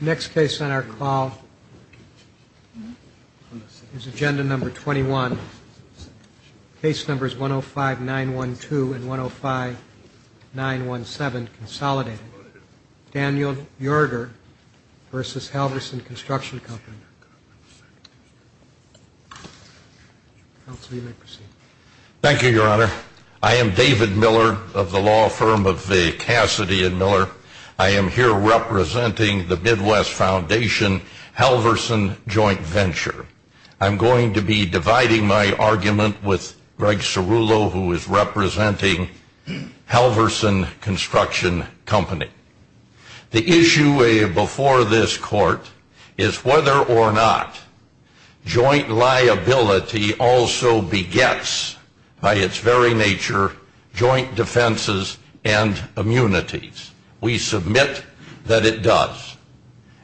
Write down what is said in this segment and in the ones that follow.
Next case on our call is Agenda No. 21, Case Numbers 105-912 and 105-917, Consolidated. Daniel Yoerger v. Halverson Construction Co. Thank you, Your Honor. I am David Miller of the law firm of the Cassidy & Miller. I am here representing the Midwest Foundation Halverson Joint Venture. I'm going to be dividing my argument with Greg Cirulo, who is representing Halverson Construction Co. The issue before this Court is whether or not joint liability also begets, by its very nature, joint defenses and immunities. We submit that it does.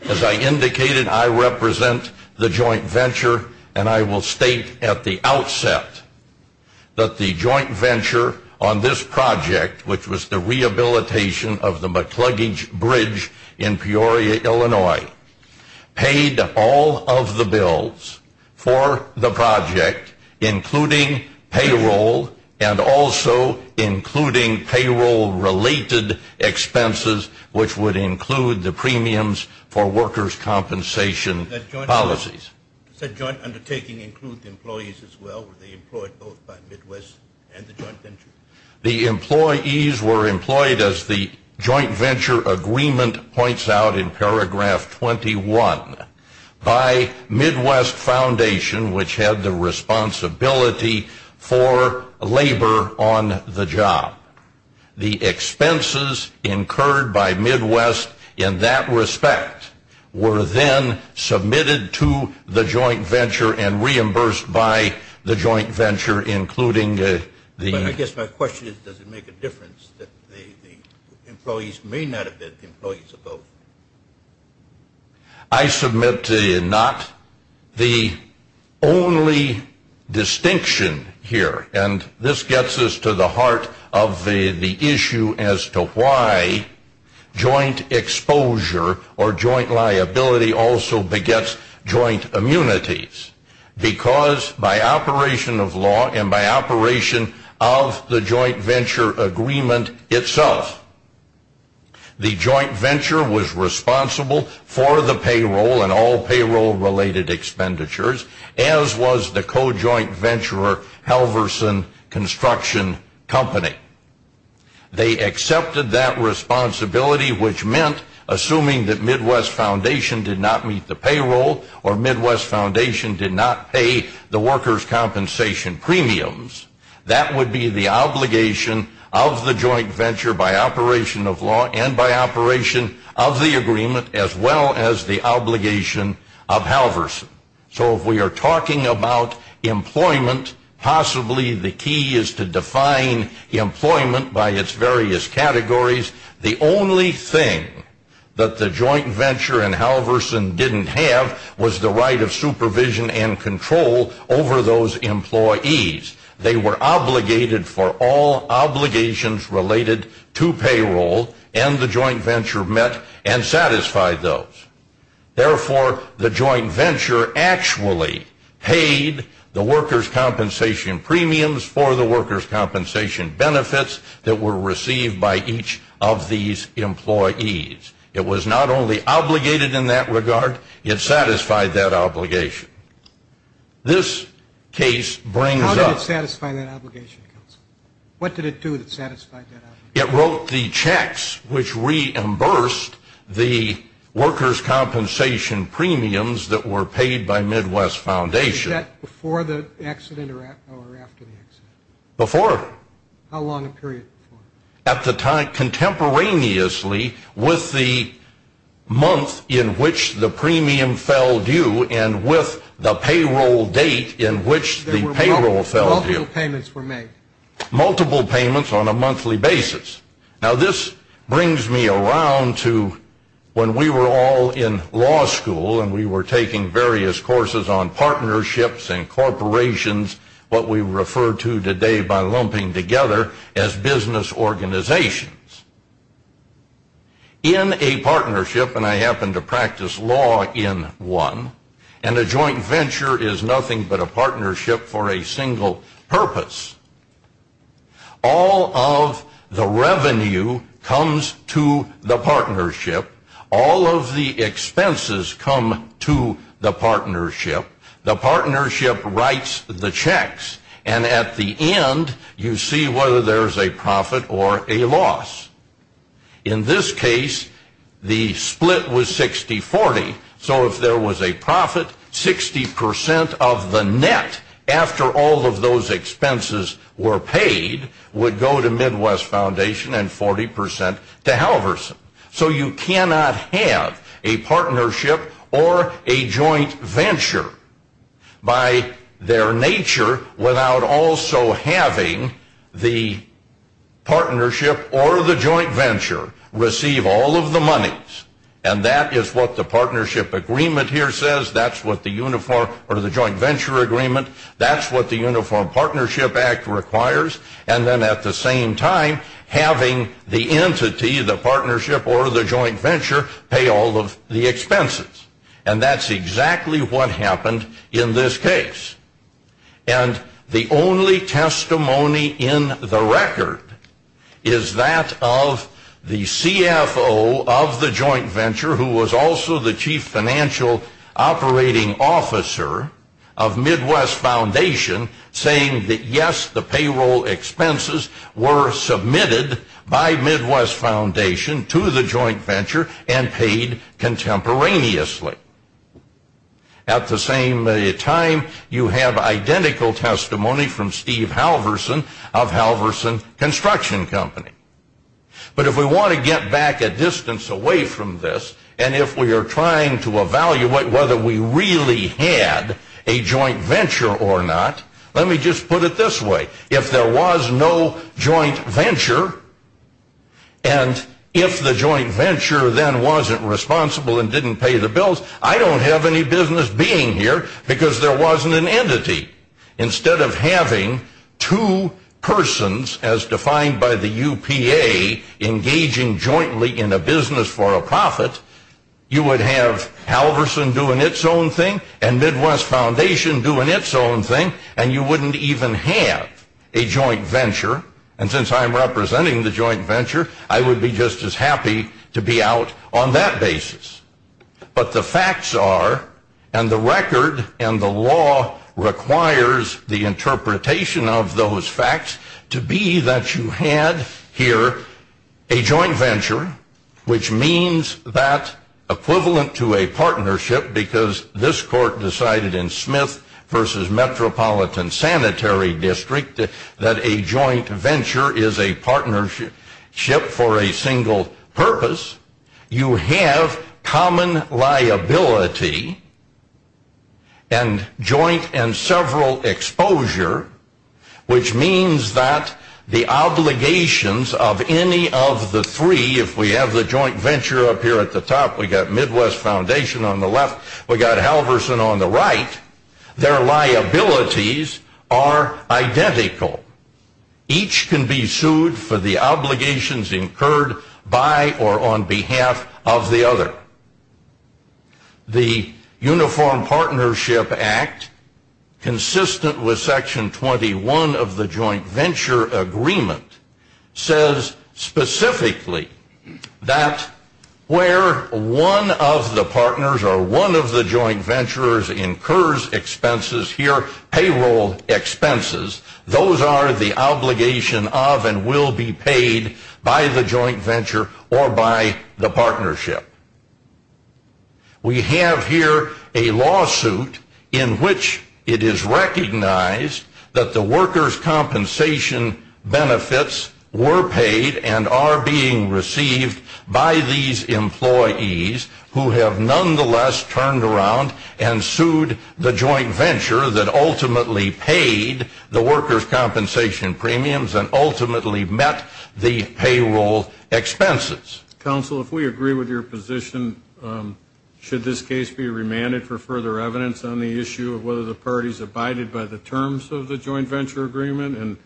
As I indicated, I represent the joint venture, and I will state at the outset that the joint venture on this project, which was the rehabilitation of the McCluggage Bridge in Peoria, Illinois, paid all of the bills for the project, including payroll, and also including payroll-related expenses, which would include the premiums for workers' compensation policies. That joint undertaking include employees as well? Were they employed both by Midwest and the joint venture? The employees were employed, as the joint venture agreement points out in paragraph 21, by Midwest Foundation, which had the responsibility for labor on the job. The expenses incurred by Midwest in that respect were then submitted to the joint venture and reimbursed by the joint venture, But I guess my question is, does it make a difference that the employees may not have been the employees of both? I submit not. The only distinction here, and this gets us to the heart of the issue as to why joint exposure or joint liability also begets joint immunities, because by operation of law and by operation of the joint venture agreement itself, the joint venture was responsible for the payroll and all payroll-related expenditures, as was the co-joint venture Helverson Construction Company. They accepted that responsibility, which meant, assuming that Midwest Foundation did not meet the payroll or Midwest Foundation did not pay the workers' compensation premiums, that would be the obligation of the joint venture by operation of law and by operation of the agreement, as well as the obligation of Helverson. So if we are talking about employment, possibly the key is to define employment by its various categories. The only thing that the joint venture and Helverson didn't have was the right of supervision and control over those employees. They were obligated for all obligations related to payroll, and the joint venture met and satisfied those. Therefore, the joint venture actually paid the workers' compensation premiums for the workers' compensation benefits that were received by each of these employees. It was not only obligated in that regard, it satisfied that obligation. This case brings up... How did it satisfy that obligation, Counsel? What did it do that satisfied that obligation? It wrote the checks which reimbursed the workers' compensation premiums that were paid by Midwest Foundation. Was that before the accident or after the accident? Before. How long a period before? At the time, contemporaneously with the month in which the premium fell due and with the payroll date in which the payroll fell due. Multiple payments were made. Multiple payments on a monthly basis. Now this brings me around to when we were all in law school and we were taking various courses on partnerships and corporations, what we refer to today by lumping together as business organizations. In a partnership, and I happen to practice law in one, and a joint venture is nothing but a partnership for a single purpose, all of the revenue comes to the partnership, all of the expenses come to the partnership, the partnership writes the checks, and at the end, you see whether there's a profit or a loss. In this case, the split was 60-40, so if there was a profit, 60% of the net, after all of those expenses were paid, would go to Midwest Foundation and 40% to Halverson. So you cannot have a partnership or a joint venture by their nature without also having the partnership or the joint venture receive all of the monies, and that is what the partnership agreement here says, that's what the joint venture agreement, that's what the Uniform Partnership Act requires, and then at the same time, having the entity, the partnership, or the joint venture pay all of the expenses. And that's exactly what happened in this case. And the only testimony in the record is that of the CFO of the joint venture, who was also the chief financial operating officer of Midwest Foundation, saying that yes, the payroll expenses were submitted by Midwest Foundation to the joint venture and paid contemporaneously. At the same time, you have identical testimony from Steve Halverson of Halverson Construction Company. But if we want to get back a distance away from this, and if we are trying to evaluate whether we really had a joint venture or not, let me just put it this way. If there was no joint venture, and if the joint venture then wasn't responsible and didn't pay the bills, I don't have any business being here because there wasn't an entity. Instead of having two persons, as defined by the UPA, engaging jointly in a business for a profit, you would have Halverson doing its own thing and Midwest Foundation doing its own thing, and you wouldn't even have a joint venture. And since I'm representing the joint venture, I would be just as happy to be out on that basis. But the facts are, and the record and the law requires the interpretation of those facts, to be that you had here a joint venture, which means that equivalent to a partnership, because this court decided in Smith v. Metropolitan Sanitary District that a joint venture is a partnership for a single purpose, you have common liability and joint and several exposure, which means that the obligations of any of the three, if we have the joint venture up here at the top, we've got Midwest Foundation on the left, we've got Halverson on the right, their liabilities are identical. Each can be sued for the obligations incurred by or on behalf of the other. The Uniform Partnership Act, consistent with Section 21 of the Joint Venture Agreement, says specifically that where one of the partners or one of the joint venturers incurs expenses here, payroll expenses, those are the obligation of and will be paid by the joint venture or by the partnership. We have here a lawsuit in which it is recognized that the workers' compensation benefits were paid and are being received by these employees who have nonetheless turned around and sued the joint venture that ultimately paid the workers' compensation premiums and ultimately met the payroll expenses. Counsel, if we agree with your position, should this case be remanded for further evidence on the issue of whether the parties abided by the terms of the joint venture agreement and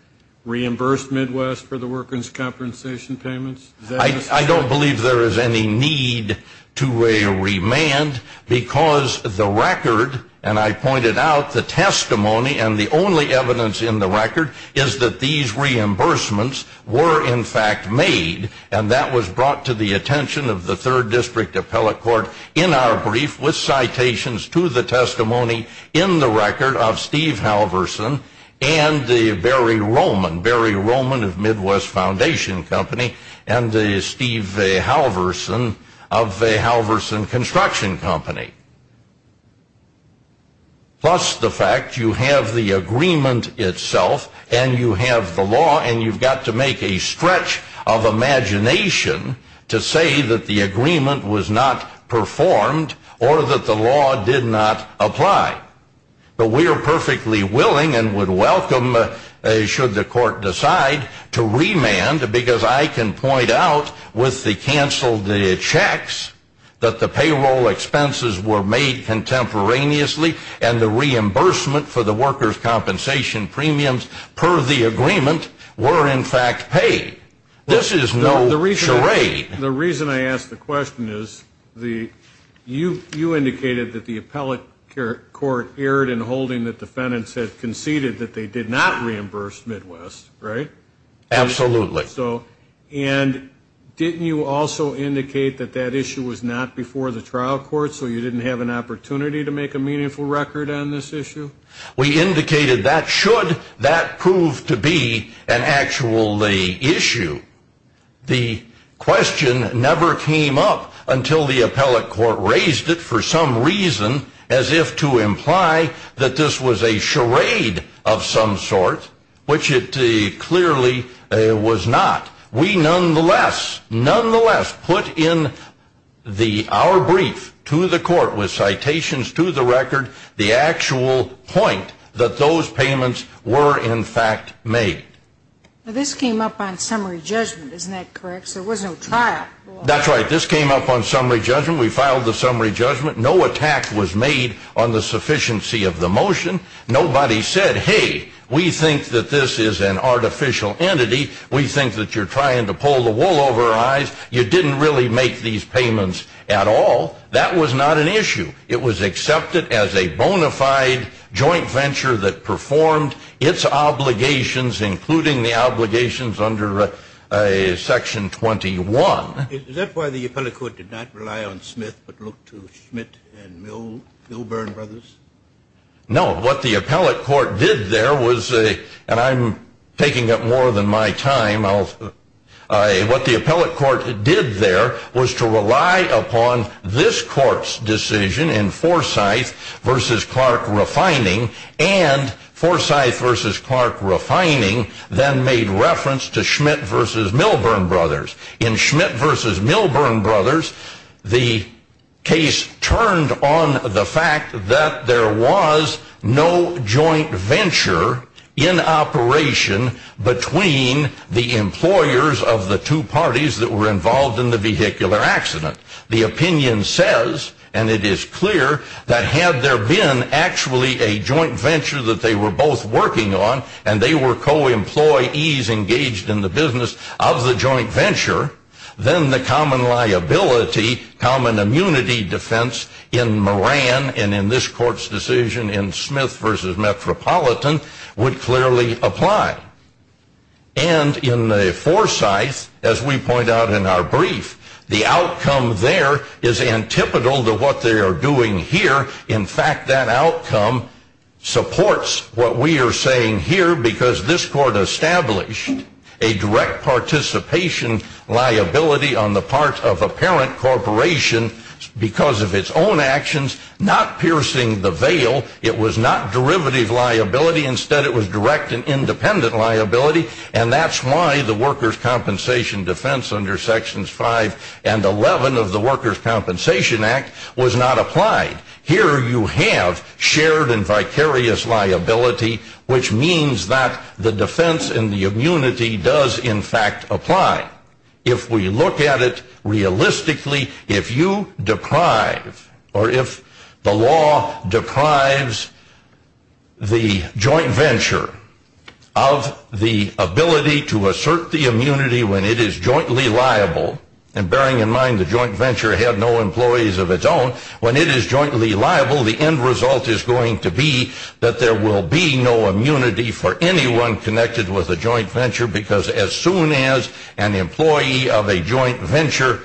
reimbursed Midwest for the workers' compensation payments? I don't believe there is any need to remand because the record, and I pointed out the testimony and the only evidence in the record is that these reimbursements were in fact made and that was brought to the attention of the Third District Appellate Court in our brief with citations to the testimony in the record of Steve Halverson and Barry Roman, Barry Roman of Midwest Foundation Company and Steve Halverson of Halverson Construction Company. Plus the fact you have the agreement itself and you have the law and you've got to make a stretch of imagination to say that the agreement was not performed or that the law did not apply. But we are perfectly willing and would welcome should the court decide to remand because I can point out with the canceled checks that the payroll expenses were made contemporaneously and the reimbursement for the workers' compensation premiums per the agreement were in fact paid. This is no charade. The reason I ask the question is you indicated that the Appellate Court erred in holding that defendants had conceded that they did not reimburse Midwest, right? Absolutely. And didn't you also indicate that that issue was not before the trial court so you didn't have an opportunity to make a meaningful record on this issue? We indicated that should that prove to be an actual issue. The question never came up until the Appellate Court raised it for some reason as if to imply that this was a charade of some sort, which it clearly was not. We nonetheless put in our brief to the court with citations to the record the actual point that those payments were in fact made. This came up on summary judgment, isn't that correct? There was no trial. That's right. This came up on summary judgment. We filed the summary judgment. No attack was made on the sufficiency of the motion. Nobody said, hey, we think that this is an artificial entity. We think that you're trying to pull the wool over our eyes. You didn't really make these payments at all. That was not an issue. It was accepted as a bona fide joint venture that performed its obligations, including the obligations under Section 21. Is that why the Appellate Court did not rely on Smith but looked to Schmidt and Milburn brothers? No. What the Appellate Court did there was, and I'm taking up more than my time, what the Appellate Court did there was to rely upon this court's decision in Forsyth v. Clark refining, and Forsyth v. Clark refining then made reference to Schmidt v. Milburn brothers. In Schmidt v. Milburn brothers, the case turned on the fact that there was no joint venture in operation between the employers of the two parties that were involved in the vehicular accident. The opinion says, and it is clear, that had there been actually a joint venture that they were both working on and they were co-employees engaged in the business of the joint venture, then the common liability, common immunity defense in Moran and in this court's decision in Smith v. Metropolitan would clearly apply. And in Forsyth, as we point out in our brief, the outcome there is antipodal to what they are doing here. In fact, that outcome supports what we are saying here because this court established a direct participation liability on the part of a parent corporation because of its own actions, not piercing the veil. It was not derivative liability. Instead, it was direct and independent liability, and that's why the workers' compensation defense under Sections 5 and 11 of the Workers' Compensation Act was not applied. Here you have shared and vicarious liability, which means that the defense and the immunity does, in fact, apply. If we look at it realistically, if you deprive or if the law deprives the joint venture of the ability to assert the immunity when it is jointly liable, and bearing in mind the joint venture had no employees of its own, when it is jointly liable, the end result is going to be that there will be no immunity for anyone connected with a joint venture because as soon as an employee of a joint venture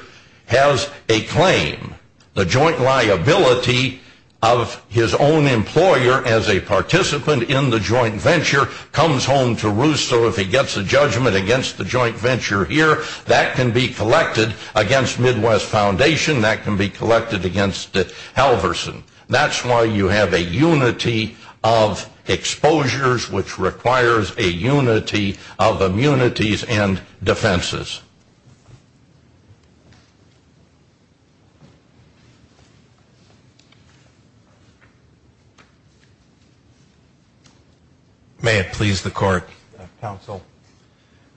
has a claim, the joint liability of his own employer as a participant in the joint venture comes home to roost. So if he gets a judgment against the joint venture here, that can be collected against Midwest Foundation. That can be collected against Halverson. That's why you have a unity of exposures which requires a unity of immunities and defenses. May it please the Court, Counsel.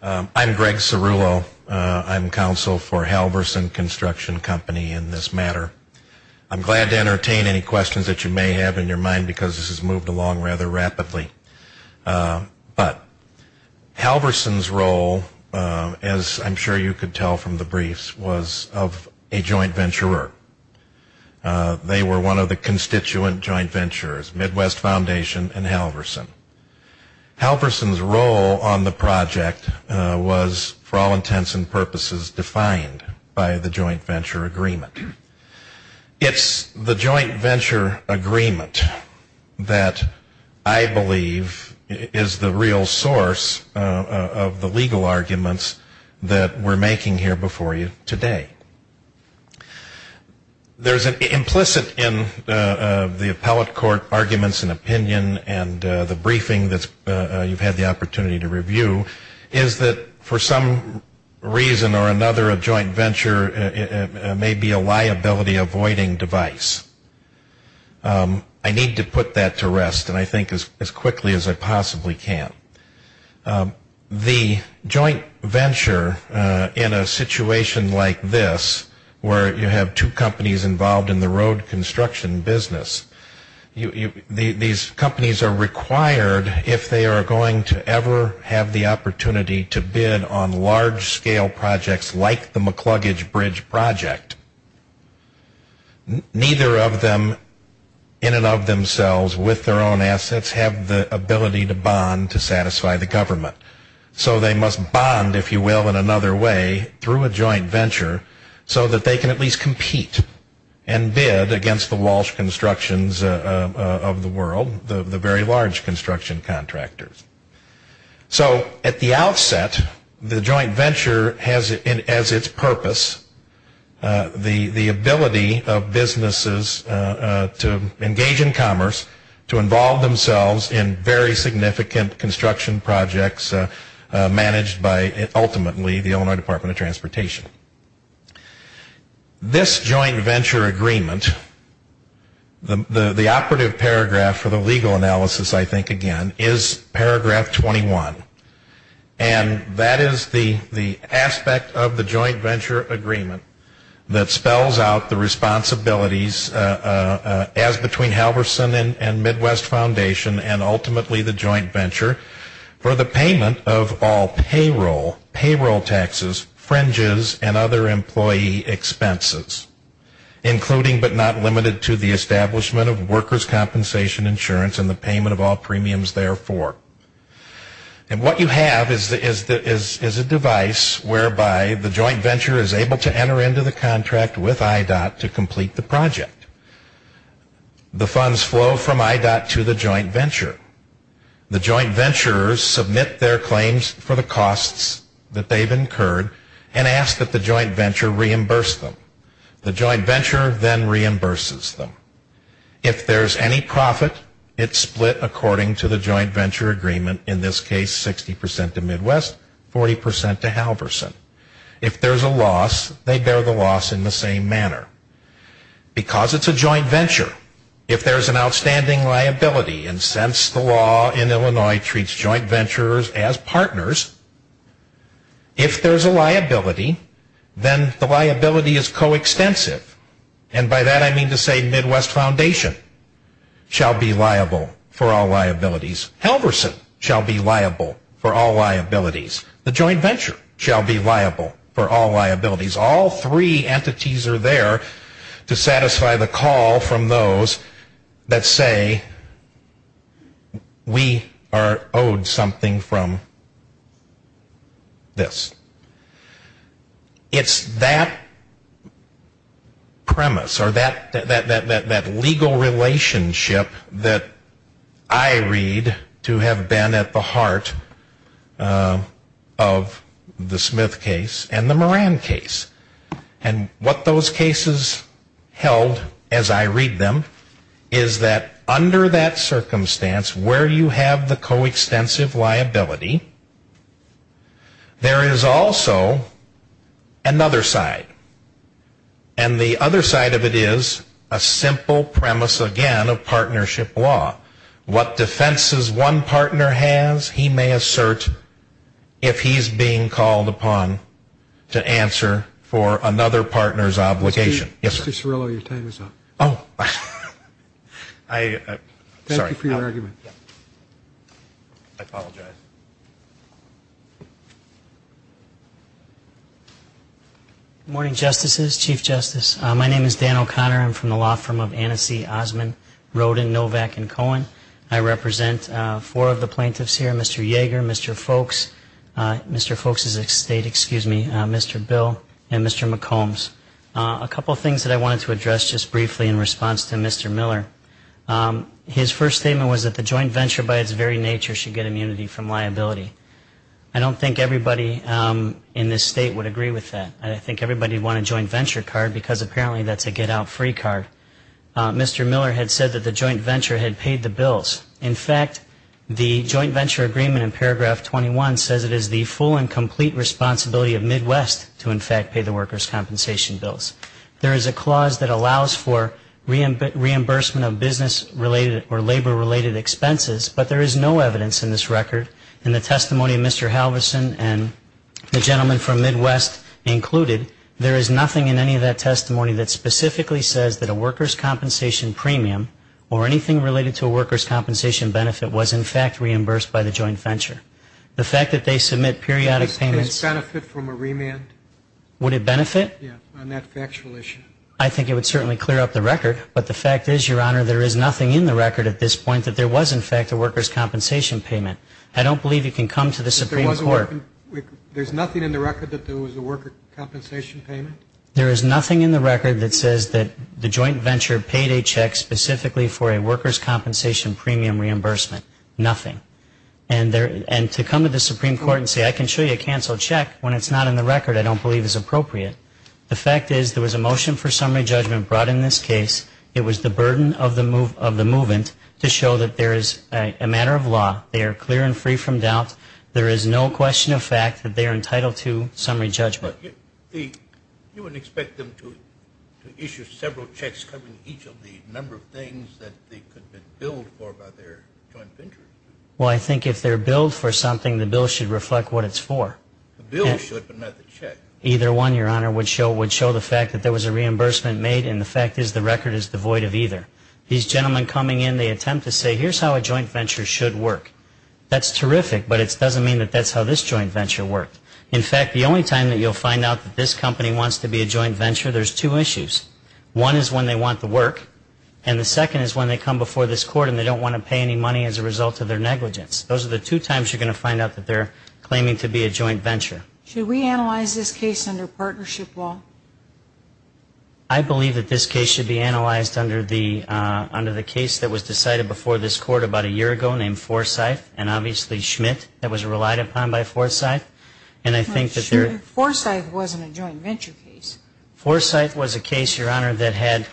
I'm Greg Cerullo. I'm Counsel for Halverson Construction Company in this matter. I'm glad to entertain any questions that you may have in your mind because this has moved along rather rapidly. But Halverson's role, as I'm sure you could tell from the briefs, was of a joint venturer. They were one of the constituent joint venturers, Midwest Foundation and Halverson. Halverson's role on the project was, for all intents and purposes, defined by the joint venture agreement. It's the joint venture agreement that I believe is the real source of the legal arguments that we're making here before you today. There's an implicit in the appellate court arguments and opinion and the briefing that you've had the opportunity to review, is that for some reason or another a joint venture may be a liability avoiding device. I need to put that to rest, and I think as quickly as I possibly can. The joint venture in a situation like this, where you have two companies involved in the road construction business, these companies are required if they are going to ever have the opportunity to bid on large-scale projects like the McLuggage Bridge project. Neither of them, in and of themselves, with their own assets, have the ability to bond to satisfy the government. So they must bond, if you will, in another way through a joint venture, so that they can at least compete and bid against the Walsh Constructions of the world, the very large construction contractors. So at the outset, the joint venture has as its purpose the ability of businesses to engage in commerce, to involve themselves in very significant construction projects managed by ultimately the Illinois Department of Transportation. This joint venture agreement, the operative paragraph for the legal analysis, I think again, is paragraph 21, and that is the aspect of the joint venture agreement that spells out the responsibilities as between Halverson and Midwest Foundation and ultimately the joint venture for the payment of all payroll, payroll taxes, fringes, and other employee expenses, including but not limited to the establishment of workers' compensation insurance and the payment of all premiums therefore. And what you have is a device whereby the joint venture is able to enter into the contract with IDOT to complete the project. The funds flow from IDOT to the joint venture. The joint venturers submit their claims for the costs that they've incurred and ask that the joint venture reimburse them. The joint venture then reimburses them. If there's any profit, it's split according to the joint venture agreement, in this case 60% to Midwest, 40% to Halverson. If there's a loss, they bear the loss in the same manner. Because it's a joint venture, if there's an outstanding liability, and since the law in Illinois treats joint venturers as partners, if there's a liability, then the liability is coextensive. And by that I mean to say Midwest Foundation shall be liable for all liabilities. Halverson shall be liable for all liabilities. The joint venture shall be liable for all liabilities. All three entities are there to satisfy the call from those that say we are owed something from this. It's that premise or that legal relationship that I read to have been at the heart of the Smith case and the Moran case. And what those cases held, as I read them, is that under that circumstance, where you have the coextensive liability, there is also another side. And the other side of it is a simple premise again of partnership law. What defenses one partner has, he may assert if he's being called upon to answer for another partner's obligation. Mr. Cirillo, your time is up. Thank you for your argument. I apologize. Good morning, Justices, Chief Justice. My name is Dan O'Connor. I'm from the law firm of Annecy, Osmond, Rodin, Novak, and Cohen. I represent four of the plaintiffs here, Mr. Yeager, Mr. Folks, Mr. Folks' estate, excuse me, Mr. Bill, and Mr. McCombs. A couple of things that I wanted to address just briefly in response to Mr. Miller. His first statement was that the joint venture by its very nature should get immunity from liability. I don't think everybody in this state would agree with that. I think everybody would want a joint venture card because apparently that's a get-out-free card. Mr. Miller had said that the joint venture had paid the bills. In fact, the joint venture agreement in paragraph 21 says it is the full and complete responsibility of Midwest to in fact pay the workers' compensation bills. There is a clause that allows for reimbursement of business-related or labor-related expenses, but there is no evidence in this record in the testimony of Mr. Halverson and the gentleman from Midwest included, there is nothing in any of that testimony that specifically says that a workers' compensation premium or anything related to a workers' compensation benefit was in fact reimbursed by the joint venture. The fact that they submit periodic payments. Would this benefit from a remand? Would it benefit? Yes, on that factual issue. I think it would certainly clear up the record, but the fact is, Your Honor, there is nothing in the record at this point that there was in fact a workers' compensation payment. I don't believe you can come to the Supreme Court. There's nothing in the record that there was a workers' compensation payment? There is nothing in the record that says that the joint venture paid a check specifically for a workers' compensation premium reimbursement. Nothing. And to come to the Supreme Court and say, I can show you a canceled check when it's not in the record, I don't believe is appropriate. The fact is, there was a motion for summary judgment brought in this case. It was the burden of the movement to show that there is a matter of law. They are clear and free from doubt. There is no question of fact that they are entitled to summary judgment. You wouldn't expect them to issue several checks covering each of the number of things that they could have been billed for by their joint venture? Well, I think if they're billed for something, the bill should reflect what it's for. The bill should, but not the check. Either one, Your Honor, would show the fact that there was a reimbursement made, and the fact is, the record is devoid of either. These gentlemen coming in, they attempt to say, here's how a joint venture should work. That's terrific, but it doesn't mean that that's how this joint venture worked. In fact, the only time that you'll find out that this company wants to be a joint venture, there's two issues. One is when they want the work, and the second is when they come before this court and they don't want to pay any money as a result of their negligence. Those are the two times you're going to find out that they're claiming to be a joint venture. Should we analyze this case under partnership law? I believe that this case should be analyzed under the case that was decided before this court about a year ago named Forsythe and obviously Schmidt that was relied upon by Forsythe. I'm not sure if Forsythe wasn't a joint venture case. Forsythe was a case, Your Honor, that had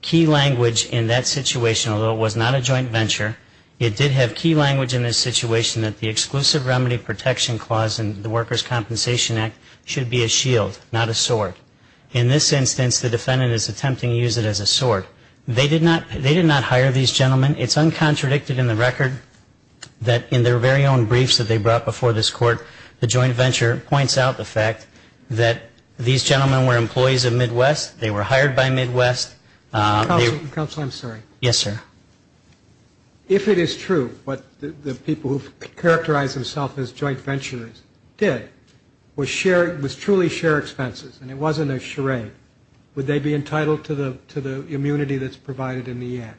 key language in that situation. Although it was not a joint venture, it did have key language in this situation that the exclusive remedy protection clause in the Workers' Compensation Act should be a shield, not a sword. In this instance, the defendant is attempting to use it as a sword. They did not hire these gentlemen. It's uncontradicted in the record that in their very own briefs that they brought before this court, the joint venture points out the fact that these gentlemen were employees of Midwest. They were hired by Midwest. Counsel, I'm sorry. Yes, sir. If it is true what the people who've characterized themselves as joint venturers did was truly share expenses and it wasn't a charade, would they be entitled to the immunity that's provided in the act?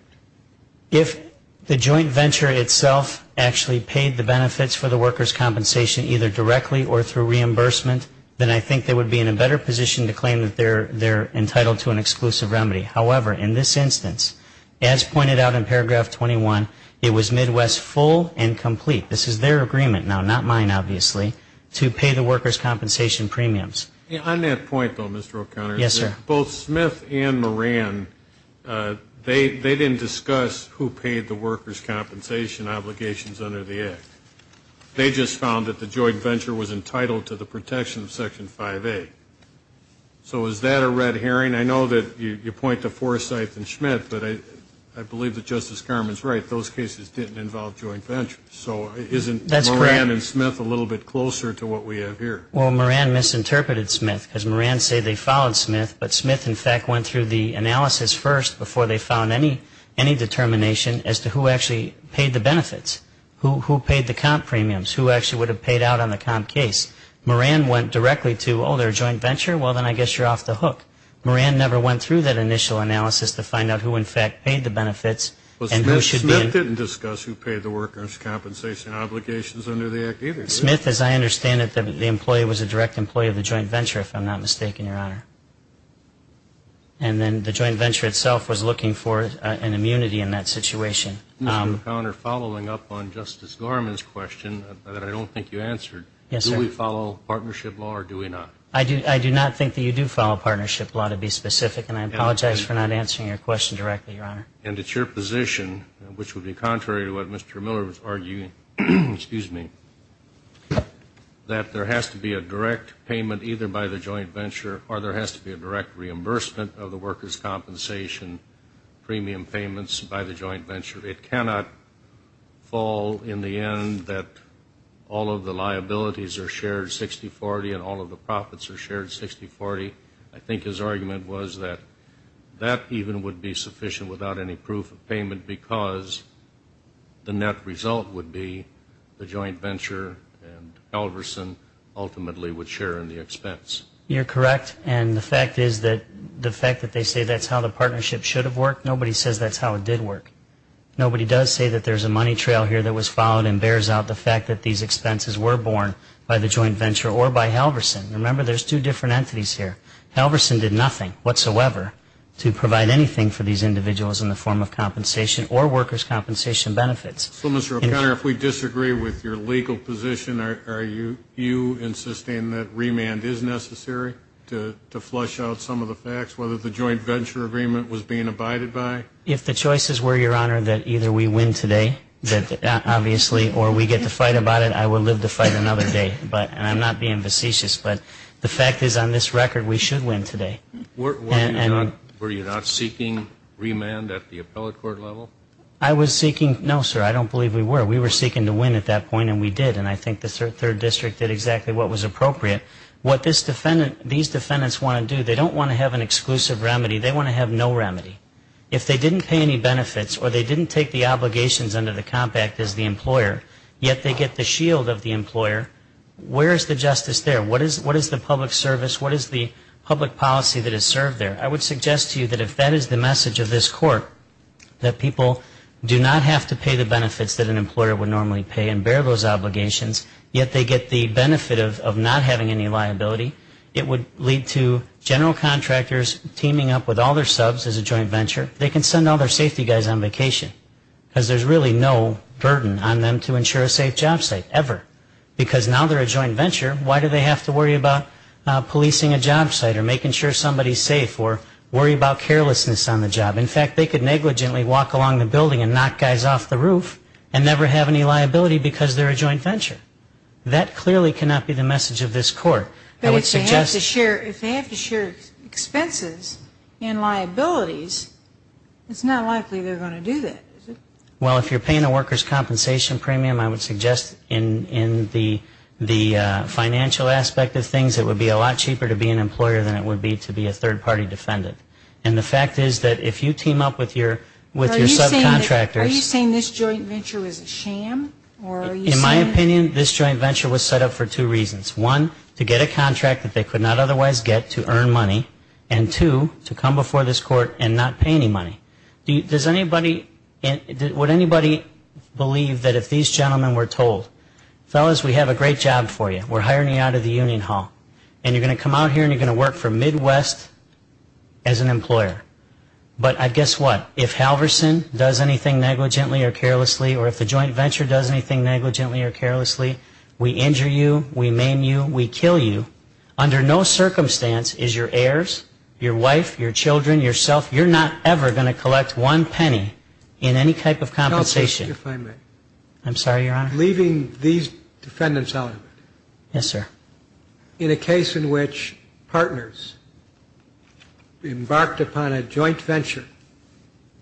If the joint venture itself actually paid the benefits for the workers' compensation either directly or through reimbursement, then I think they would be in a better position to claim that they're entitled to an exclusive remedy. However, in this instance, as pointed out in paragraph 21, it was Midwest full and complete. This is their agreement now, not mine, obviously, to pay the workers' compensation premiums. On that point, though, Mr. O'Connor. Yes, sir. Both Smith and Moran, they didn't discuss who paid the workers' compensation obligations under the act. They just found that the joint venture was entitled to the protection of Section 5A. So is that a red herring? I know that you point to Forsythe and Smith, but I believe that Justice Garmon's right. Those cases didn't involve joint ventures. So isn't Moran and Smith a little bit closer to what we have here? Well, Moran misinterpreted Smith because Moran said they followed Smith, but Smith, in fact, went through the analysis first before they found any determination as to who actually paid the benefits, who paid the comp premiums, who actually would have paid out on the comp case. Moran went directly to, oh, they're a joint venture? Well, then I guess you're off the hook. Moran never went through that initial analysis to find out who, in fact, paid the benefits. Well, Smith didn't discuss who paid the workers' compensation obligations under the act either, did he? Smith, as I understand it, the employee was a direct employee of the joint venture, if I'm not mistaken, Your Honor. And then the joint venture itself was looking for an immunity in that situation. Mr. McConner, following up on Justice Garmon's question that I don't think you answered, do we follow partnership law or do we not? I do not think that you do follow partnership law, to be specific, and I apologize for not answering your question directly, Your Honor. And it's your position, which would be contrary to what Mr. Miller was arguing, excuse me, that there has to be a direct payment either by the joint venture or there has to be a direct reimbursement of the workers' compensation premium payments by the joint venture. It cannot fall in the end that all of the liabilities are shared 60-40 and all of the profits are shared 60-40. I think his argument was that that even would be sufficient without any proof of payment because the net result would be the joint venture and Halverson ultimately would share in the expense. You're correct, and the fact is that the fact that they say that's how the partnership should have worked, nobody says that's how it did work. Nobody does say that there's a money trail here that was followed and bears out the fact that these expenses were borne by the joint venture or by Halverson. Remember, there's two different entities here. Halverson did nothing whatsoever to provide anything for these individuals in the form of compensation or workers' compensation benefits. So, Mr. O'Connor, if we disagree with your legal position, are you insisting that remand is necessary to flush out some of the facts, whether the joint venture agreement was being abided by? If the choices were, Your Honor, that either we win today, obviously, or we get to fight about it, and I will live to fight another day, and I'm not being facetious, but the fact is on this record we should win today. Were you not seeking remand at the appellate court level? I was seeking, no, sir, I don't believe we were. We were seeking to win at that point, and we did, and I think the third district did exactly what was appropriate. What these defendants want to do, they don't want to have an exclusive remedy. They want to have no remedy. If they didn't pay any benefits or they didn't take the obligations under the Comp Act as the employer, yet they get the shield of the employer, where is the justice there? What is the public service? What is the public policy that is served there? I would suggest to you that if that is the message of this court, that people do not have to pay the benefits that an employer would normally pay and bear those obligations, yet they get the benefit of not having any liability, it would lead to general contractors teaming up with all their subs as a joint venture. They can send all their safety guys on vacation, because there's really no burden on them to ensure a safe job site, ever. Because now they're a joint venture, why do they have to worry about policing a job site or making sure somebody is safe or worry about carelessness on the job? In fact, they could negligently walk along the building and knock guys off the roof and never have any liability because they're a joint venture. That clearly cannot be the message of this court. But if they have to share expenses and liabilities, it's not likely they're going to do that, is it? Well, if you're paying the workers' compensation premium, I would suggest in the financial aspect of things, it would be a lot cheaper to be an employer than it would be to be a third-party defendant. And the fact is that if you team up with your subcontractors. Are you saying this joint venture is a sham? In my opinion, this joint venture was set up for two reasons. One, to get a contract that they could not otherwise get to earn money. And two, to come before this court and not pay any money. Does anybody, would anybody believe that if these gentlemen were told, fellas, we have a great job for you, we're hiring you out of the union hall. And you're going to come out here and you're going to work for Midwest as an employer. But guess what, if Halverson does anything negligently or carelessly or if the joint venture does anything negligently or carelessly, we injure you, we maim you, we kill you. Under no circumstance is your heirs, your wife, your children, yourself, you're not ever going to collect one penny in any type of compensation. Help me, if I may. I'm sorry, Your Honor. Leaving these defendants out of it. Yes, sir. In a case in which partners embarked upon a joint venture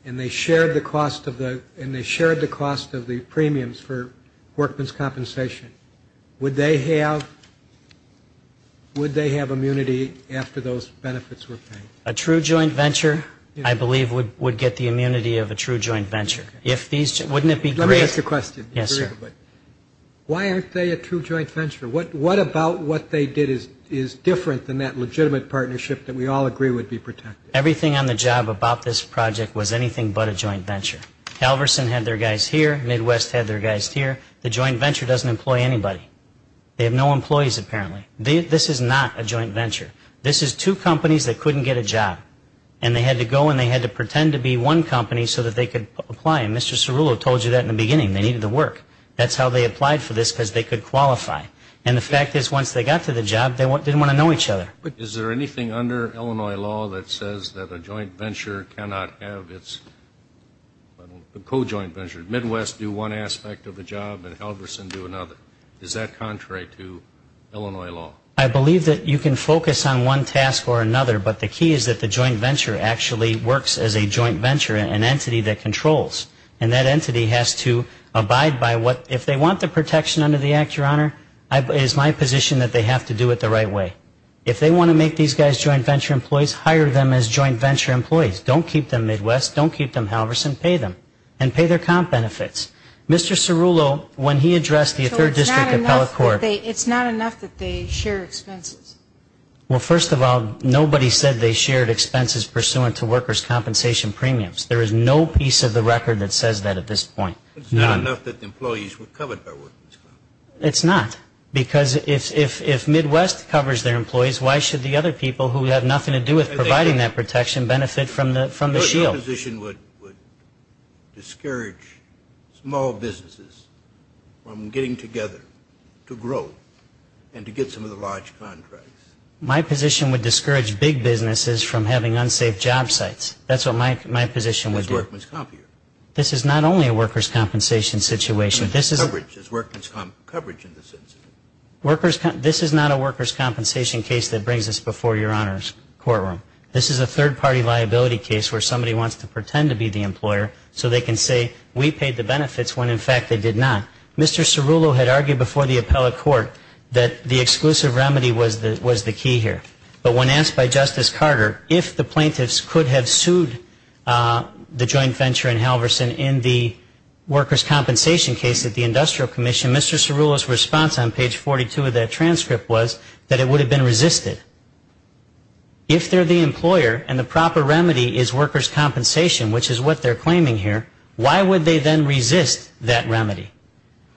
and they shared the cost of the premiums for workman's compensation, would they have immunity after those benefits were paid? A true joint venture, I believe, would get the immunity of a true joint venture. Wouldn't it be great? Let me ask you a question. Yes, sir. Why aren't they a true joint venture? What about what they did is different than that legitimate partnership that we all agree would be protected? Everything on the job about this project was anything but a joint venture. Halverson had their guys here. Midwest had their guys here. The joint venture doesn't employ anybody. They have no employees, apparently. This is not a joint venture. This is two companies that couldn't get a job, and they had to go and they had to pretend to be one company so that they could apply. And Mr. Cerullo told you that in the beginning. They needed the work. That's how they applied for this, because they could qualify. And the fact is, once they got to the job, they didn't want to know each other. Is there anything under Illinois law that says that a joint venture cannot have its co-joint venture? Midwest do one aspect of the job and Halverson do another. Is that contrary to Illinois law? I believe that you can focus on one task or another, but the key is that the joint venture actually works as a joint venture, an entity that controls. And that entity has to abide by what, if they want the protection under the Act, Your Honor, it is my position that they have to do it the right way. If they want to make these guys joint venture employees, hire them as joint venture employees. Don't keep them Midwest. Don't keep them Halverson. And pay their comp benefits. Mr. Cerullo, when he addressed the third district appellate court. It's not enough that they share expenses. Well, first of all, nobody said they shared expenses pursuant to workers' compensation premiums. There is no piece of the record that says that at this point. It's not enough that the employees were covered by workers' comp. It's not. Because if Midwest covers their employees, why should the other people who have nothing to do with providing that protection benefit from the shield? My position would discourage small businesses from getting together to grow and to get some of the large contracts. My position would discourage big businesses from having unsafe job sites. That's what my position would do. This is not only a workers' compensation situation. This is not a workers' compensation case that brings us before Your Honor's courtroom. This is a third-party liability case where somebody wants to pretend to be the employer so they can say, we paid the benefits when, in fact, they did not. Mr. Cerullo had argued before the appellate court that the exclusive remedy was the key here. But when asked by Justice Carter if the plaintiffs could have sued the joint venture and Halverson in the workers' compensation case at the Industrial Commission, Mr. Cerullo's response on page 42 of that transcript was that it would have been resisted. If they're the employer and the proper remedy is workers' compensation, which is what they're claiming here, why would they then resist that remedy?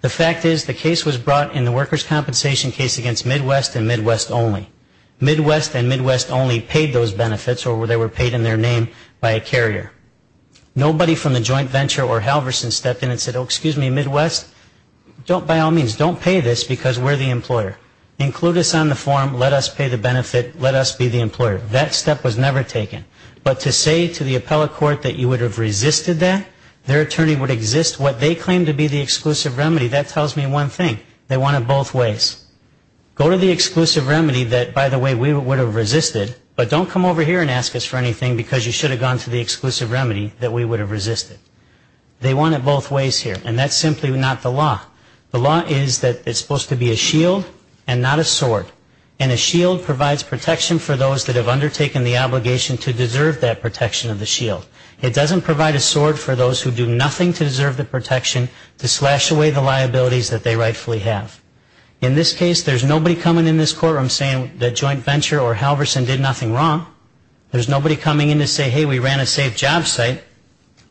The fact is the case was brought in the workers' compensation case against Midwest and Midwest only. Midwest and Midwest only paid those benefits or they were paid in their name by a carrier. Nobody from the joint venture or Halverson stepped in and said, oh, excuse me, Midwest, by all means, don't pay this because we're the employer. Include us on the form. Let us pay the benefit. Let us be the employer. That step was never taken. But to say to the appellate court that you would have resisted that, their attorney would exist. What they claim to be the exclusive remedy, that tells me one thing. They want it both ways. Go to the exclusive remedy that, by the way, we would have resisted, but don't come over here and ask us for anything because you should have gone to the exclusive remedy that we would have resisted. They want it both ways here. And that's simply not the law. The law is that it's supposed to be a shield and not a sword. And a shield provides protection for those that have undertaken the obligation to deserve that protection of the shield. It doesn't provide a sword for those who do nothing to deserve the protection to slash away the liabilities that they rightfully have. In this case, there's nobody coming in this courtroom saying the joint venture or Halverson did nothing wrong. There's nobody coming in to say, hey, we ran a safe job site.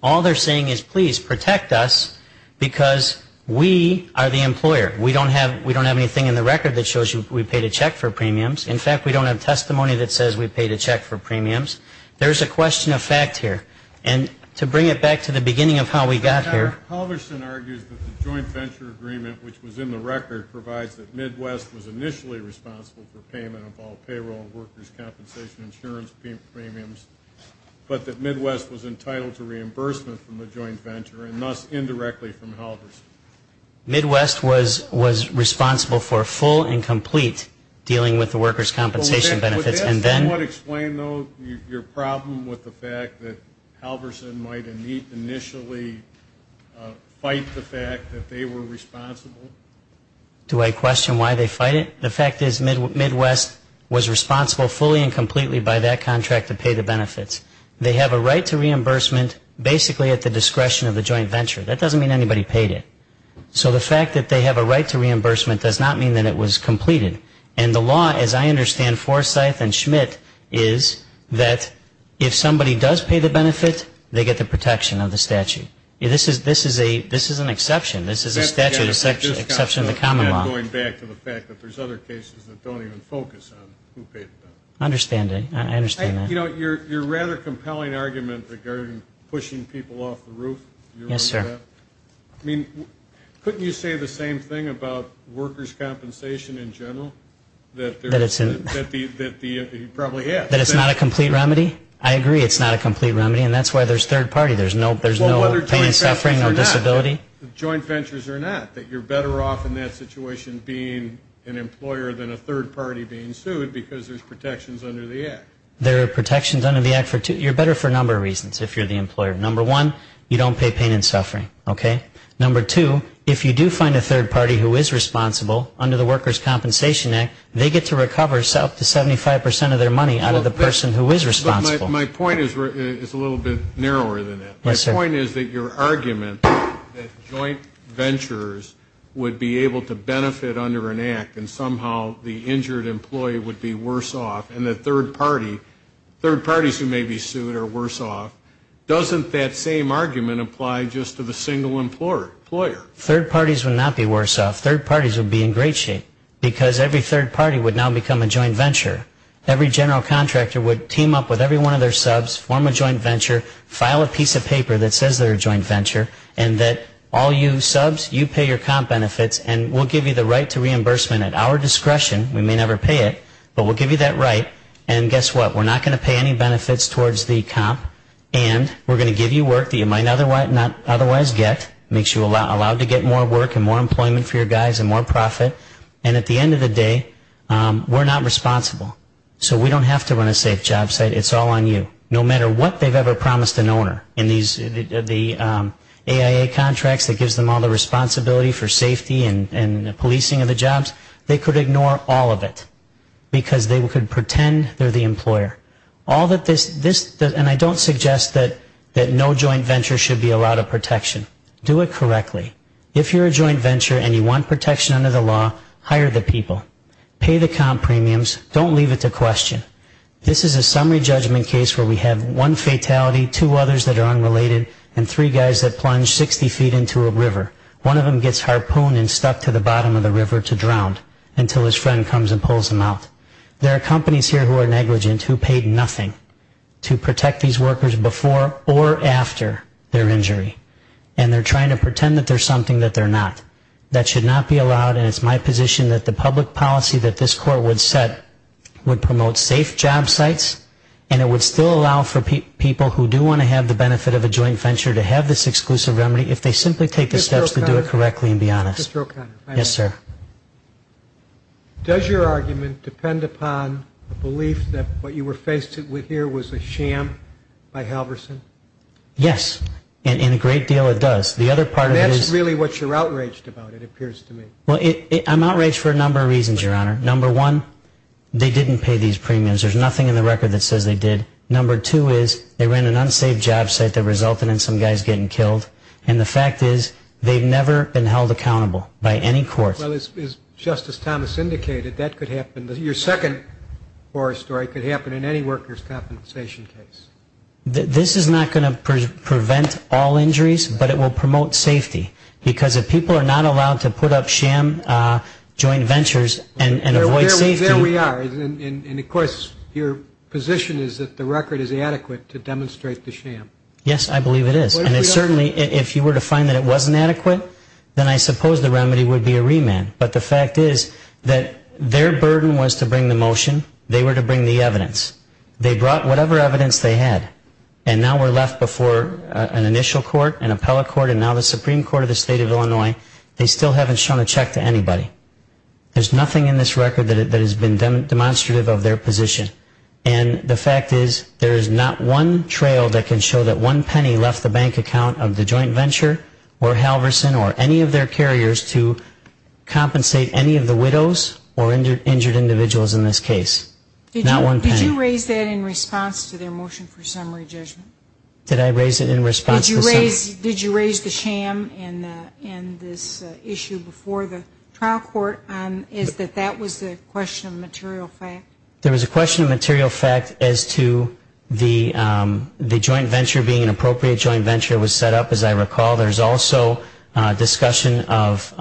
All they're saying is, please, protect us because we are the employer. We don't have anything in the record that shows we paid a check for premiums. In fact, we don't have testimony that says we paid a check for premiums. There's a question of fact here. And to bring it back to the beginning of how we got here. Halverson argues that the joint venture agreement, which was in the record, provides that Midwest was initially responsible for payment of all payroll, workers' compensation, insurance premiums, but that Midwest was entitled to reimbursement from the joint venture and thus indirectly from Halverson. Midwest was responsible for full and complete dealing with the workers' compensation benefits. Would that somewhat explain, though, your problem with the fact that Halverson might initially fight the fact that they were responsible? Do I question why they fight it? The fact is Midwest was responsible fully and completely by that contract to pay the benefits. They have a right to reimbursement basically at the discretion of the joint venture. That doesn't mean anybody paid it. So the fact that they have a right to reimbursement does not mean that it was completed. And the law, as I understand, Forsyth and Schmidt, is that if somebody does pay the benefit, they get the protection of the statute. This is an exception. This is a statute exception to the common law. I'm not going back to the fact that there's other cases that don't even focus on who paid the benefit. I understand that. I understand that. You know, your rather compelling argument regarding pushing people off the roof, you remember that? Yes, sir. I mean, couldn't you say the same thing about workers' compensation in general? That it's not a complete remedy? I agree it's not a complete remedy, and that's why there's third party. There's no pain, suffering, or disability. Joint ventures are not, that you're better off in that situation being an employer than a third party being sued because there's protections under the Act. There are protections under the Act. You're better for a number of reasons if you're the employer. Number one, you don't pay pain and suffering. Okay? Number two, if you do find a third party who is responsible under the Workers' Compensation Act, they get to recover up to 75 percent of their money out of the person who is responsible. My point is a little bit narrower than that. Yes, sir. My point is that your argument that joint ventures would be able to benefit under an Act and somehow the injured employee would be worse off and that third parties who may be sued are worse off, doesn't that same argument apply just to the single employer? Third parties would not be worse off. Third parties would be in great shape because every third party would now become a joint venture. Every general contractor would team up with every one of their subs, form a joint venture, file a piece of paper that says they're a joint venture, and that all you subs, you pay your comp benefits and we'll give you the right to reimbursement at our discretion. We may never pay it, but we'll give you that right. And guess what? We're not going to pay any benefits towards the comp and we're going to give you work that you might not otherwise get. It makes you allowed to get more work and more employment for your guys and more profit. And at the end of the day, we're not responsible. So we don't have to run a safe job site. It's all on you. No matter what they've ever promised an owner in the AIA contracts that gives them all the responsibility for safety and policing of the jobs, they could ignore all of it because they could pretend they're the employer. And I don't suggest that no joint venture should be allowed a protection. Do it correctly. If you're a joint venture and you want protection under the law, hire the people. Pay the comp premiums. Don't leave it to question. This is a summary judgment case where we have one fatality, two others that are unrelated, and three guys that plunge 60 feet into a river. One of them gets harpooned and stuck to the bottom of the river to drown until his friend comes and pulls him out. There are companies here who are negligent, who paid nothing to protect these workers before or after their injury, and they're trying to pretend that they're something that they're not. That should not be allowed, and it's my position that the public policy that this court would set would promote safe job sites, and it would still allow for people who do want to have the benefit of a joint venture to have this exclusive remedy if they simply take the steps to do it correctly and be honest. Mr. O'Connor. Yes, sir. Does your argument depend upon the belief that what you were faced with here was a sham by Halverson? Yes, and a great deal it does. And that's really what you're outraged about, it appears to me. Well, I'm outraged for a number of reasons, Your Honor. Number one, they didn't pay these premiums. There's nothing in the record that says they did. Number two is they ran an unsaved job site that resulted in some guys getting killed, and the fact is they've never been held accountable by any court. Well, as Justice Thomas indicated, that could happen. Your second story could happen in any workers' compensation case. This is not going to prevent all injuries, but it will promote safety, because if people are not allowed to put up sham joint ventures and avoid safety. There we are. And, of course, your position is that the record is adequate to demonstrate the sham. Yes, I believe it is. And certainly if you were to find that it wasn't adequate, then I suppose the remedy would be a remand. But the fact is that their burden was to bring the motion, they were to bring the evidence. They brought whatever evidence they had, and now we're left before an initial court, an appellate court, and now the Supreme Court of the State of Illinois. They still haven't shown a check to anybody. There's nothing in this record that has been demonstrative of their position. And the fact is there is not one trail that can show that one penny left the bank account of the joint venture or Halverson or any of their carriers to compensate any of the widows or injured individuals in this case. Not one penny. Did you raise that in response to their motion for summary judgment? Did I raise it in response to summary? Did you raise the sham in this issue before the trial court? Is that that was the question of material fact? There was a question of material fact as to the joint venture being an appropriate joint venture was set up, as I recall. There's also discussion of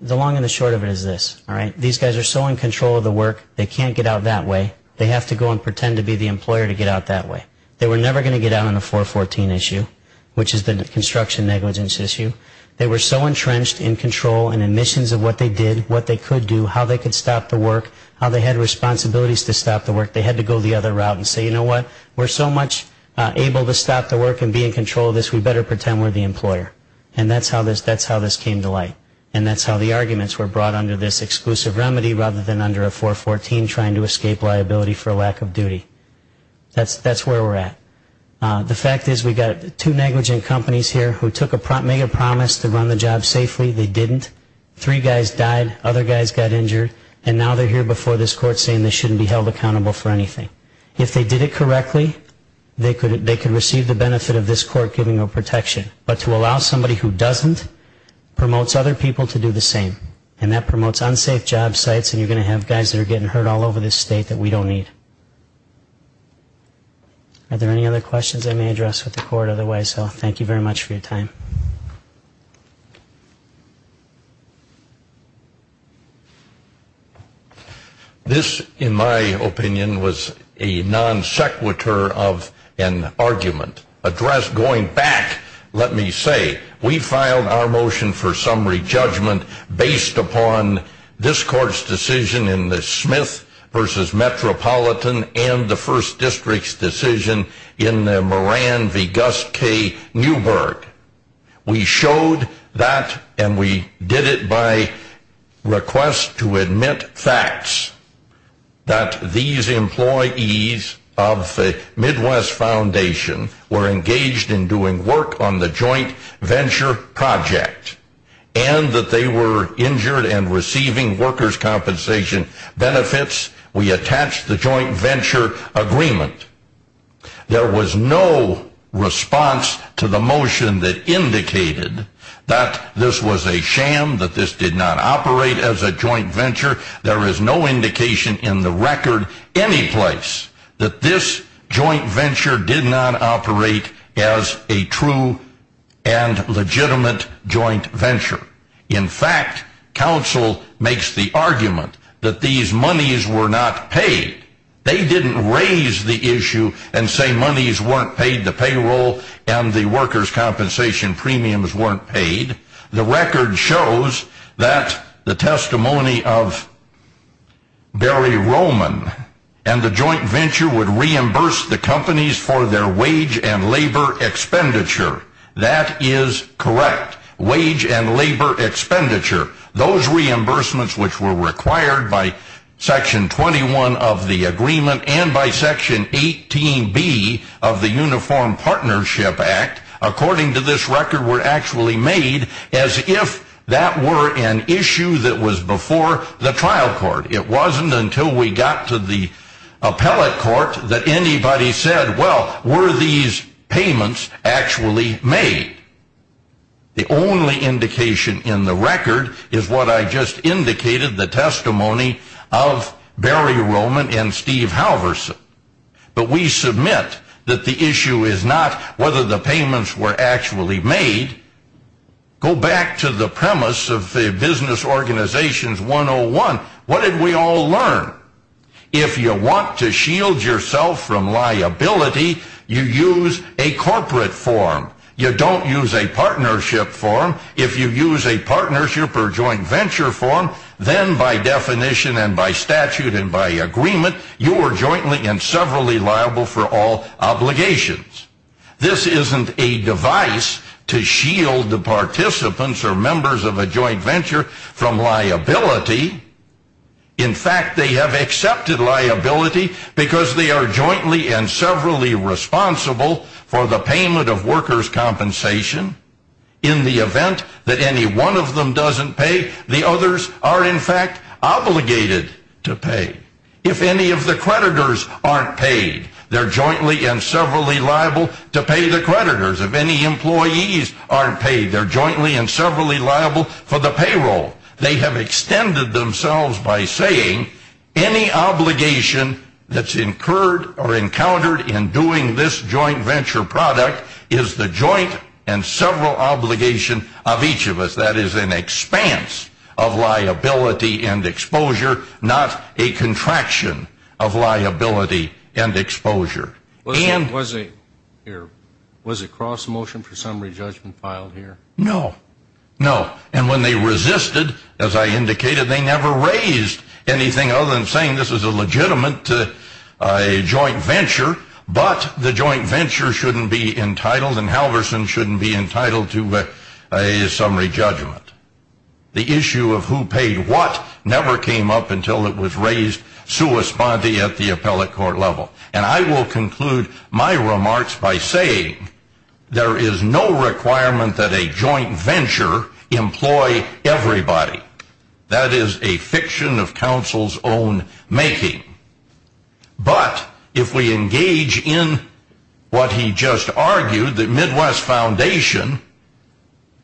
the long and the short of it is this. These guys are so in control of the work, they can't get out that way. They have to go and pretend to be the employer to get out that way. They were never going to get out on a 414 issue, which is the construction negligence issue. They were so entrenched in control and admissions of what they did, what they could do, how they could stop the work, how they had responsibilities to stop the work, they had to go the other route and say, you know what? We're so much able to stop the work and be in control of this, we better pretend we're the employer. And that's how this came to light. And that's how the arguments were brought under this exclusive remedy rather than under a 414 trying to escape liability for lack of duty. That's where we're at. The fact is we've got two negligent companies here who took a promise to run the job safely. They didn't. Three guys died. Other guys got injured. And now they're here before this court saying they shouldn't be held accountable for anything. If they did it correctly, they could receive the benefit of this court giving them protection. But to allow somebody who doesn't promotes other people to do the same. And that promotes unsafe job sites, and you're going to have guys that are getting hurt all over this state that we don't need. Are there any other questions I may address with the court? Otherwise, I'll thank you very much for your time. This, in my opinion, was a non sequitur of an argument addressed going back, let me say, we filed our motion for summary judgment based upon this court's decision in the Smith v. Metropolitan and the first district's decision in the Moran v. Gus K. Newberg. We showed that, and we did it by request to admit facts, that these employees of the Midwest Foundation were engaged in doing work on the joint venture project, and that they were injured and receiving workers' compensation benefits. We attached the joint venture agreement. There was no response to the motion that indicated that this was a sham, that this did not operate as a joint venture. There is no indication in the record anyplace that this joint venture did not operate as a true and legitimate joint venture. In fact, counsel makes the argument that these monies were not paid. They didn't raise the issue and say monies weren't paid, the payroll and the workers' compensation premiums weren't paid. The record shows that the testimony of Barry Roman and the joint venture would reimburse the companies for their wage and labor expenditure. That is correct, wage and labor expenditure. Those reimbursements which were required by Section 21 of the agreement and by Section 18B of the Uniform Partnership Act, according to this record, were actually made as if that were an issue that was before the trial court. It wasn't until we got to the appellate court that anybody said, well, were these payments actually made? The only indication in the record is what I just indicated, the testimony of Barry Roman and Steve Halverson. But we submit that the issue is not whether the payments were actually made. Go back to the premise of the Business Organizations 101. What did we all learn? If you want to shield yourself from liability, you use a corporate form. You don't use a partnership form. If you use a partnership or joint venture form, then by definition and by statute and by agreement, you are jointly and severally liable for all obligations. This isn't a device to shield the participants or members of a joint venture from liability. In fact, they have accepted liability because they are jointly and severally responsible for the payment of workers' compensation. In the event that any one of them doesn't pay, the others are in fact obligated to pay. If any of the creditors aren't paid, they're jointly and severally liable to pay the creditors. If any employees aren't paid, they're jointly and severally liable for the payroll. They have extended themselves by saying any obligation that's incurred or encountered in doing this joint venture product is the joint and several obligation of each of us. That is an expanse of liability and exposure, not a contraction of liability and exposure. Was a cross motion for summary judgment filed here? No. No. And when they resisted, as I indicated, they never raised anything other than saying this is a legitimate joint venture, but the joint venture shouldn't be entitled and Halverson shouldn't be entitled to a summary judgment. The issue of who paid what never came up until it was raised sui sponte at the appellate court level. And I will conclude my remarks by saying there is no requirement that a joint venture employ everybody. That is a fiction of counsel's own making. But if we engage in what he just argued, that Midwest Foundation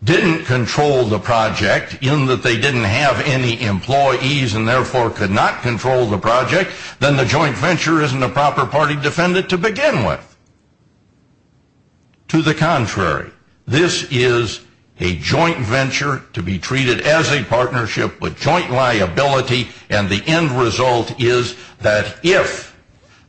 didn't control the project in that they didn't have any employees and therefore could not control the project, then the joint venture isn't a proper party defendant to begin with. To the contrary, this is a joint venture to be treated as a partnership with joint liability and the end result is that if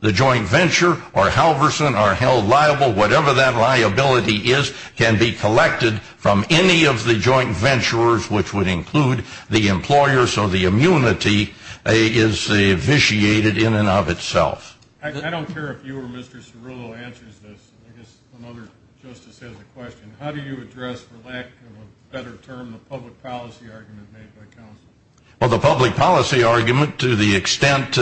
the joint venture or Halverson are held liable, whatever that liability is can be collected from any of the joint ventures, which would include the employer, so the immunity is vitiated in and of itself. I don't care if you or Mr. Cerullo answers this. I guess another justice has a question. How do you address, for lack of a better term, the public policy argument made by counsel? Well, the public policy argument, to the extent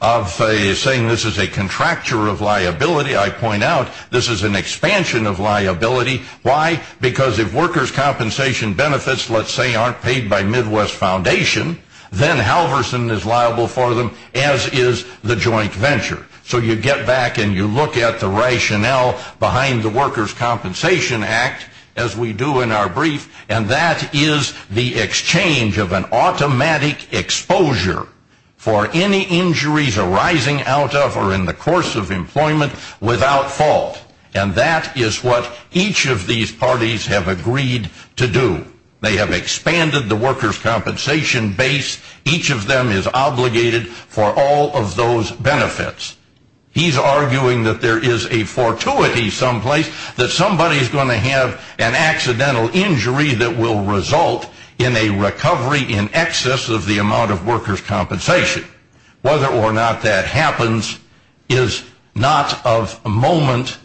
of saying this is a contractor of liability, I point out this is an expansion of liability. Why? Because if workers' compensation benefits, let's say, aren't paid by Midwest Foundation, then Halverson is liable for them, as is the joint venture. So you get back and you look at the rationale behind the Workers' Compensation Act, as we do in our brief, and that is the exchange of an automatic exposure for any injuries arising out of or in the course of employment without fault. And that is what each of these parties have agreed to do. They have expanded the workers' compensation base. Each of them is obligated for all of those benefits. He's arguing that there is a fortuity someplace, that somebody is going to have an accidental injury that will result in a recovery in excess of the amount of workers' compensation. Whether or not that happens is not of moment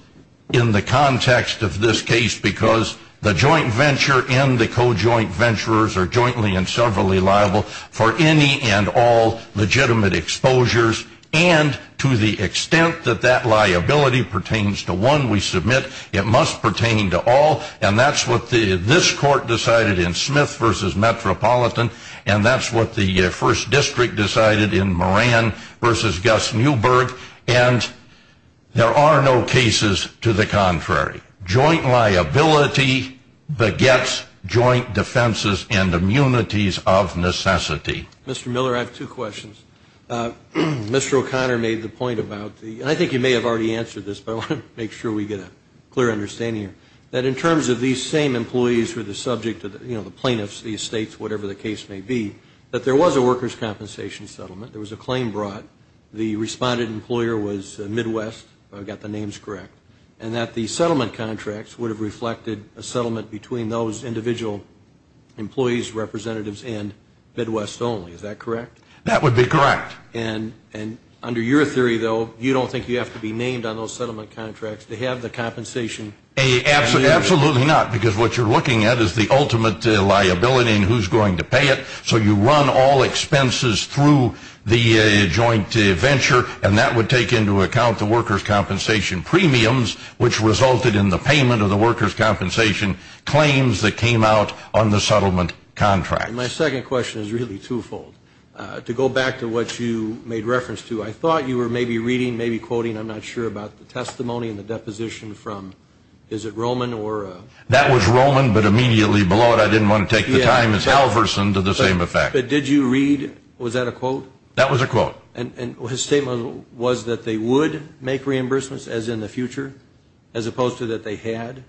in the context of this case, because the joint venture and the co-joint venturers are jointly and severally liable for any and all legitimate exposures and to the extent that that liability pertains to one we submit, it must pertain to all. And that's what this court decided in Smith v. Metropolitan, and that's what the first district decided in Moran v. Gus Newberg. And there are no cases to the contrary. Joint liability begets joint defenses and immunities of necessity. Mr. Miller, I have two questions. Mr. O'Connor made the point about the, and I think he may have already answered this, but I want to make sure we get a clear understanding here, that in terms of these same employees who are the subject of the plaintiffs, the estates, whatever the case may be, that there was a workers' compensation settlement, there was a claim brought, the responded employer was Midwest, if I've got the names correct, and that the settlement contracts would have reflected a settlement between those individual employees, representatives, and Midwest only, is that correct? That would be correct. And under your theory, though, you don't think you have to be named on those settlement contracts to have the compensation? Absolutely not, because what you're looking at is the ultimate liability and who's going to pay it. So you run all expenses through the joint venture, and that would take into account the workers' compensation premiums, which resulted in the payment of the workers' compensation claims that came out on the settlement contracts. My second question is really twofold. To go back to what you made reference to, I thought you were maybe reading, maybe quoting, I'm not sure, about the testimony and the deposition from, is it Roman or? That was Roman, but immediately below it I didn't want to take the time. It's Halverson to the same effect. But did you read, was that a quote? That was a quote. And his statement was that they would make reimbursements, as in the future, as opposed to that they had?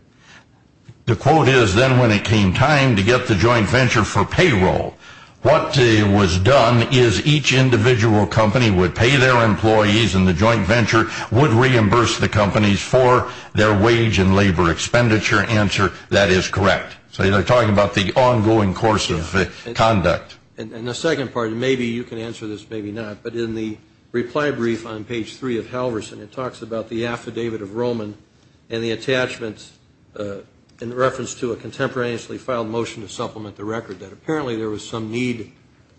The quote is, then when it came time to get the joint venture for payroll, what was done is each individual company would pay their employees, and the joint venture would reimburse the companies for their wage and labor expenditure. Answer, that is correct. So you're talking about the ongoing course of conduct. And the second part, and maybe you can answer this, maybe not, but in the reply brief on page 3 of Halverson it talks about the affidavit of Roman and the attachments in reference to a contemporaneously filed motion to supplement the record, that apparently there was some need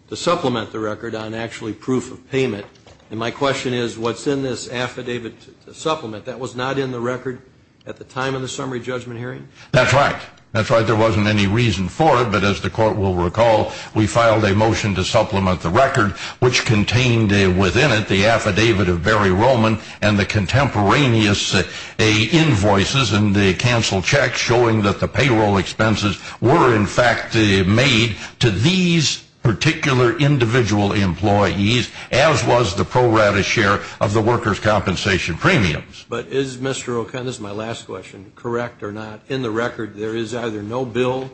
to supplement the record on actually proof of payment. And my question is, what's in this affidavit to supplement? That was not in the record at the time of the summary judgment hearing? That's right. That's right. There wasn't any reason for it. As the Court will recall, we filed a motion to supplement the record, which contained within it the affidavit of Barry Roman and the contemporaneous invoices and the canceled checks, showing that the payroll expenses were, in fact, made to these particular individual employees, as was the pro rata share of the workers' compensation premiums. But is Mr. O'Connor, this is my last question, correct or not, that in the record there is either no bill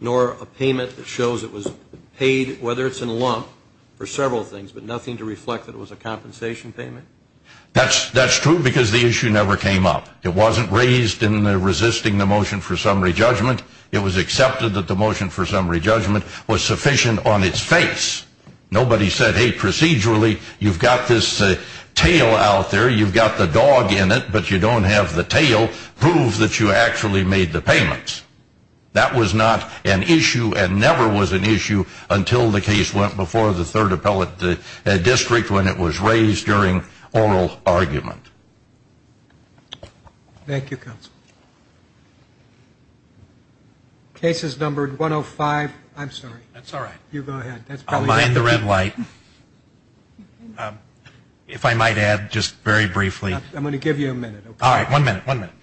nor a payment that shows it was paid, whether it's in a lump, for several things, but nothing to reflect that it was a compensation payment? That's true because the issue never came up. It wasn't raised in resisting the motion for summary judgment. It was accepted that the motion for summary judgment was sufficient on its face. Nobody said, hey, procedurally you've got this tail out there, you've got the dog in it, but you don't have the tail prove that you actually made the payments. That was not an issue and never was an issue until the case went before the Third Appellate District when it was raised during oral argument. Thank you, counsel. Case is numbered 105. I'm sorry. That's all right. You go ahead. I'll light the red light. If I might add, just very briefly. I'm going to give you a minute. All right, one minute, one minute.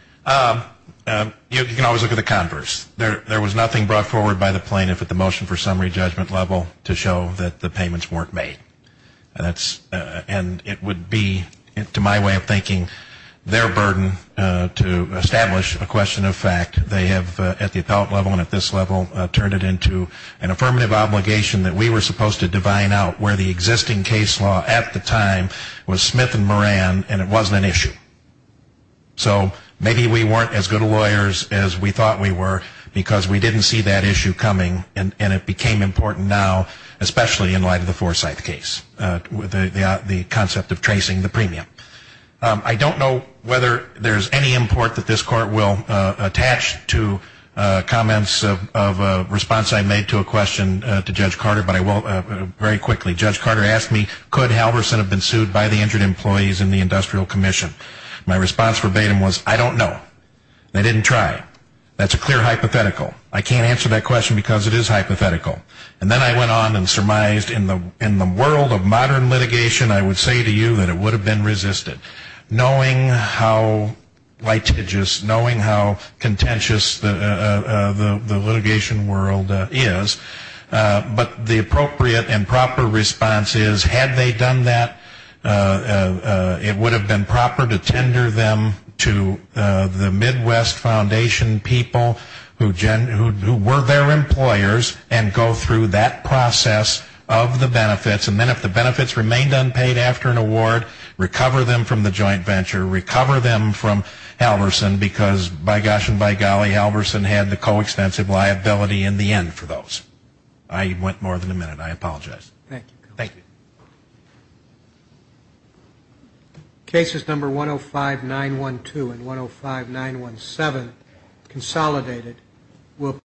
You can always look at the converse. There was nothing brought forward by the plaintiff at the motion for summary judgment level to show that the payments weren't made. And it would be, to my way of thinking, their burden to establish a question of fact. They have, at the appellate level and at this level, turned it into an affirmative obligation that we were supposed to divine out where the existing case law at the time was Smith and Moran and it wasn't an issue. So maybe we weren't as good lawyers as we thought we were because we didn't see that issue coming and it became important now, especially in light of the Forsyth case, the concept of tracing the premium. I don't know whether there's any import that this court will attach to comments of a response I made to a question to Judge Carter, but I will very quickly. Judge Carter asked me, could Halverson have been sued by the injured employees in the Industrial Commission? My response verbatim was, I don't know. They didn't try. That's a clear hypothetical. I can't answer that question because it is hypothetical. And then I went on and surmised in the world of modern litigation, I would say to you that it would have been resisted. Knowing how litigious, knowing how contentious the litigation world is, but the appropriate and proper response is, had they done that, it would have been proper to tender them to the Midwest Foundation people who were their employers and go through that process of the benefits. And then if the benefits remained unpaid after an award, recover them from the joint venture, recover them from Halverson because, by gosh and by golly, Halverson had the coextensive liability in the end for those. I went more than a minute. I apologize. Thank you. Thank you. Cases number 105-912 and 105-917 consolidated will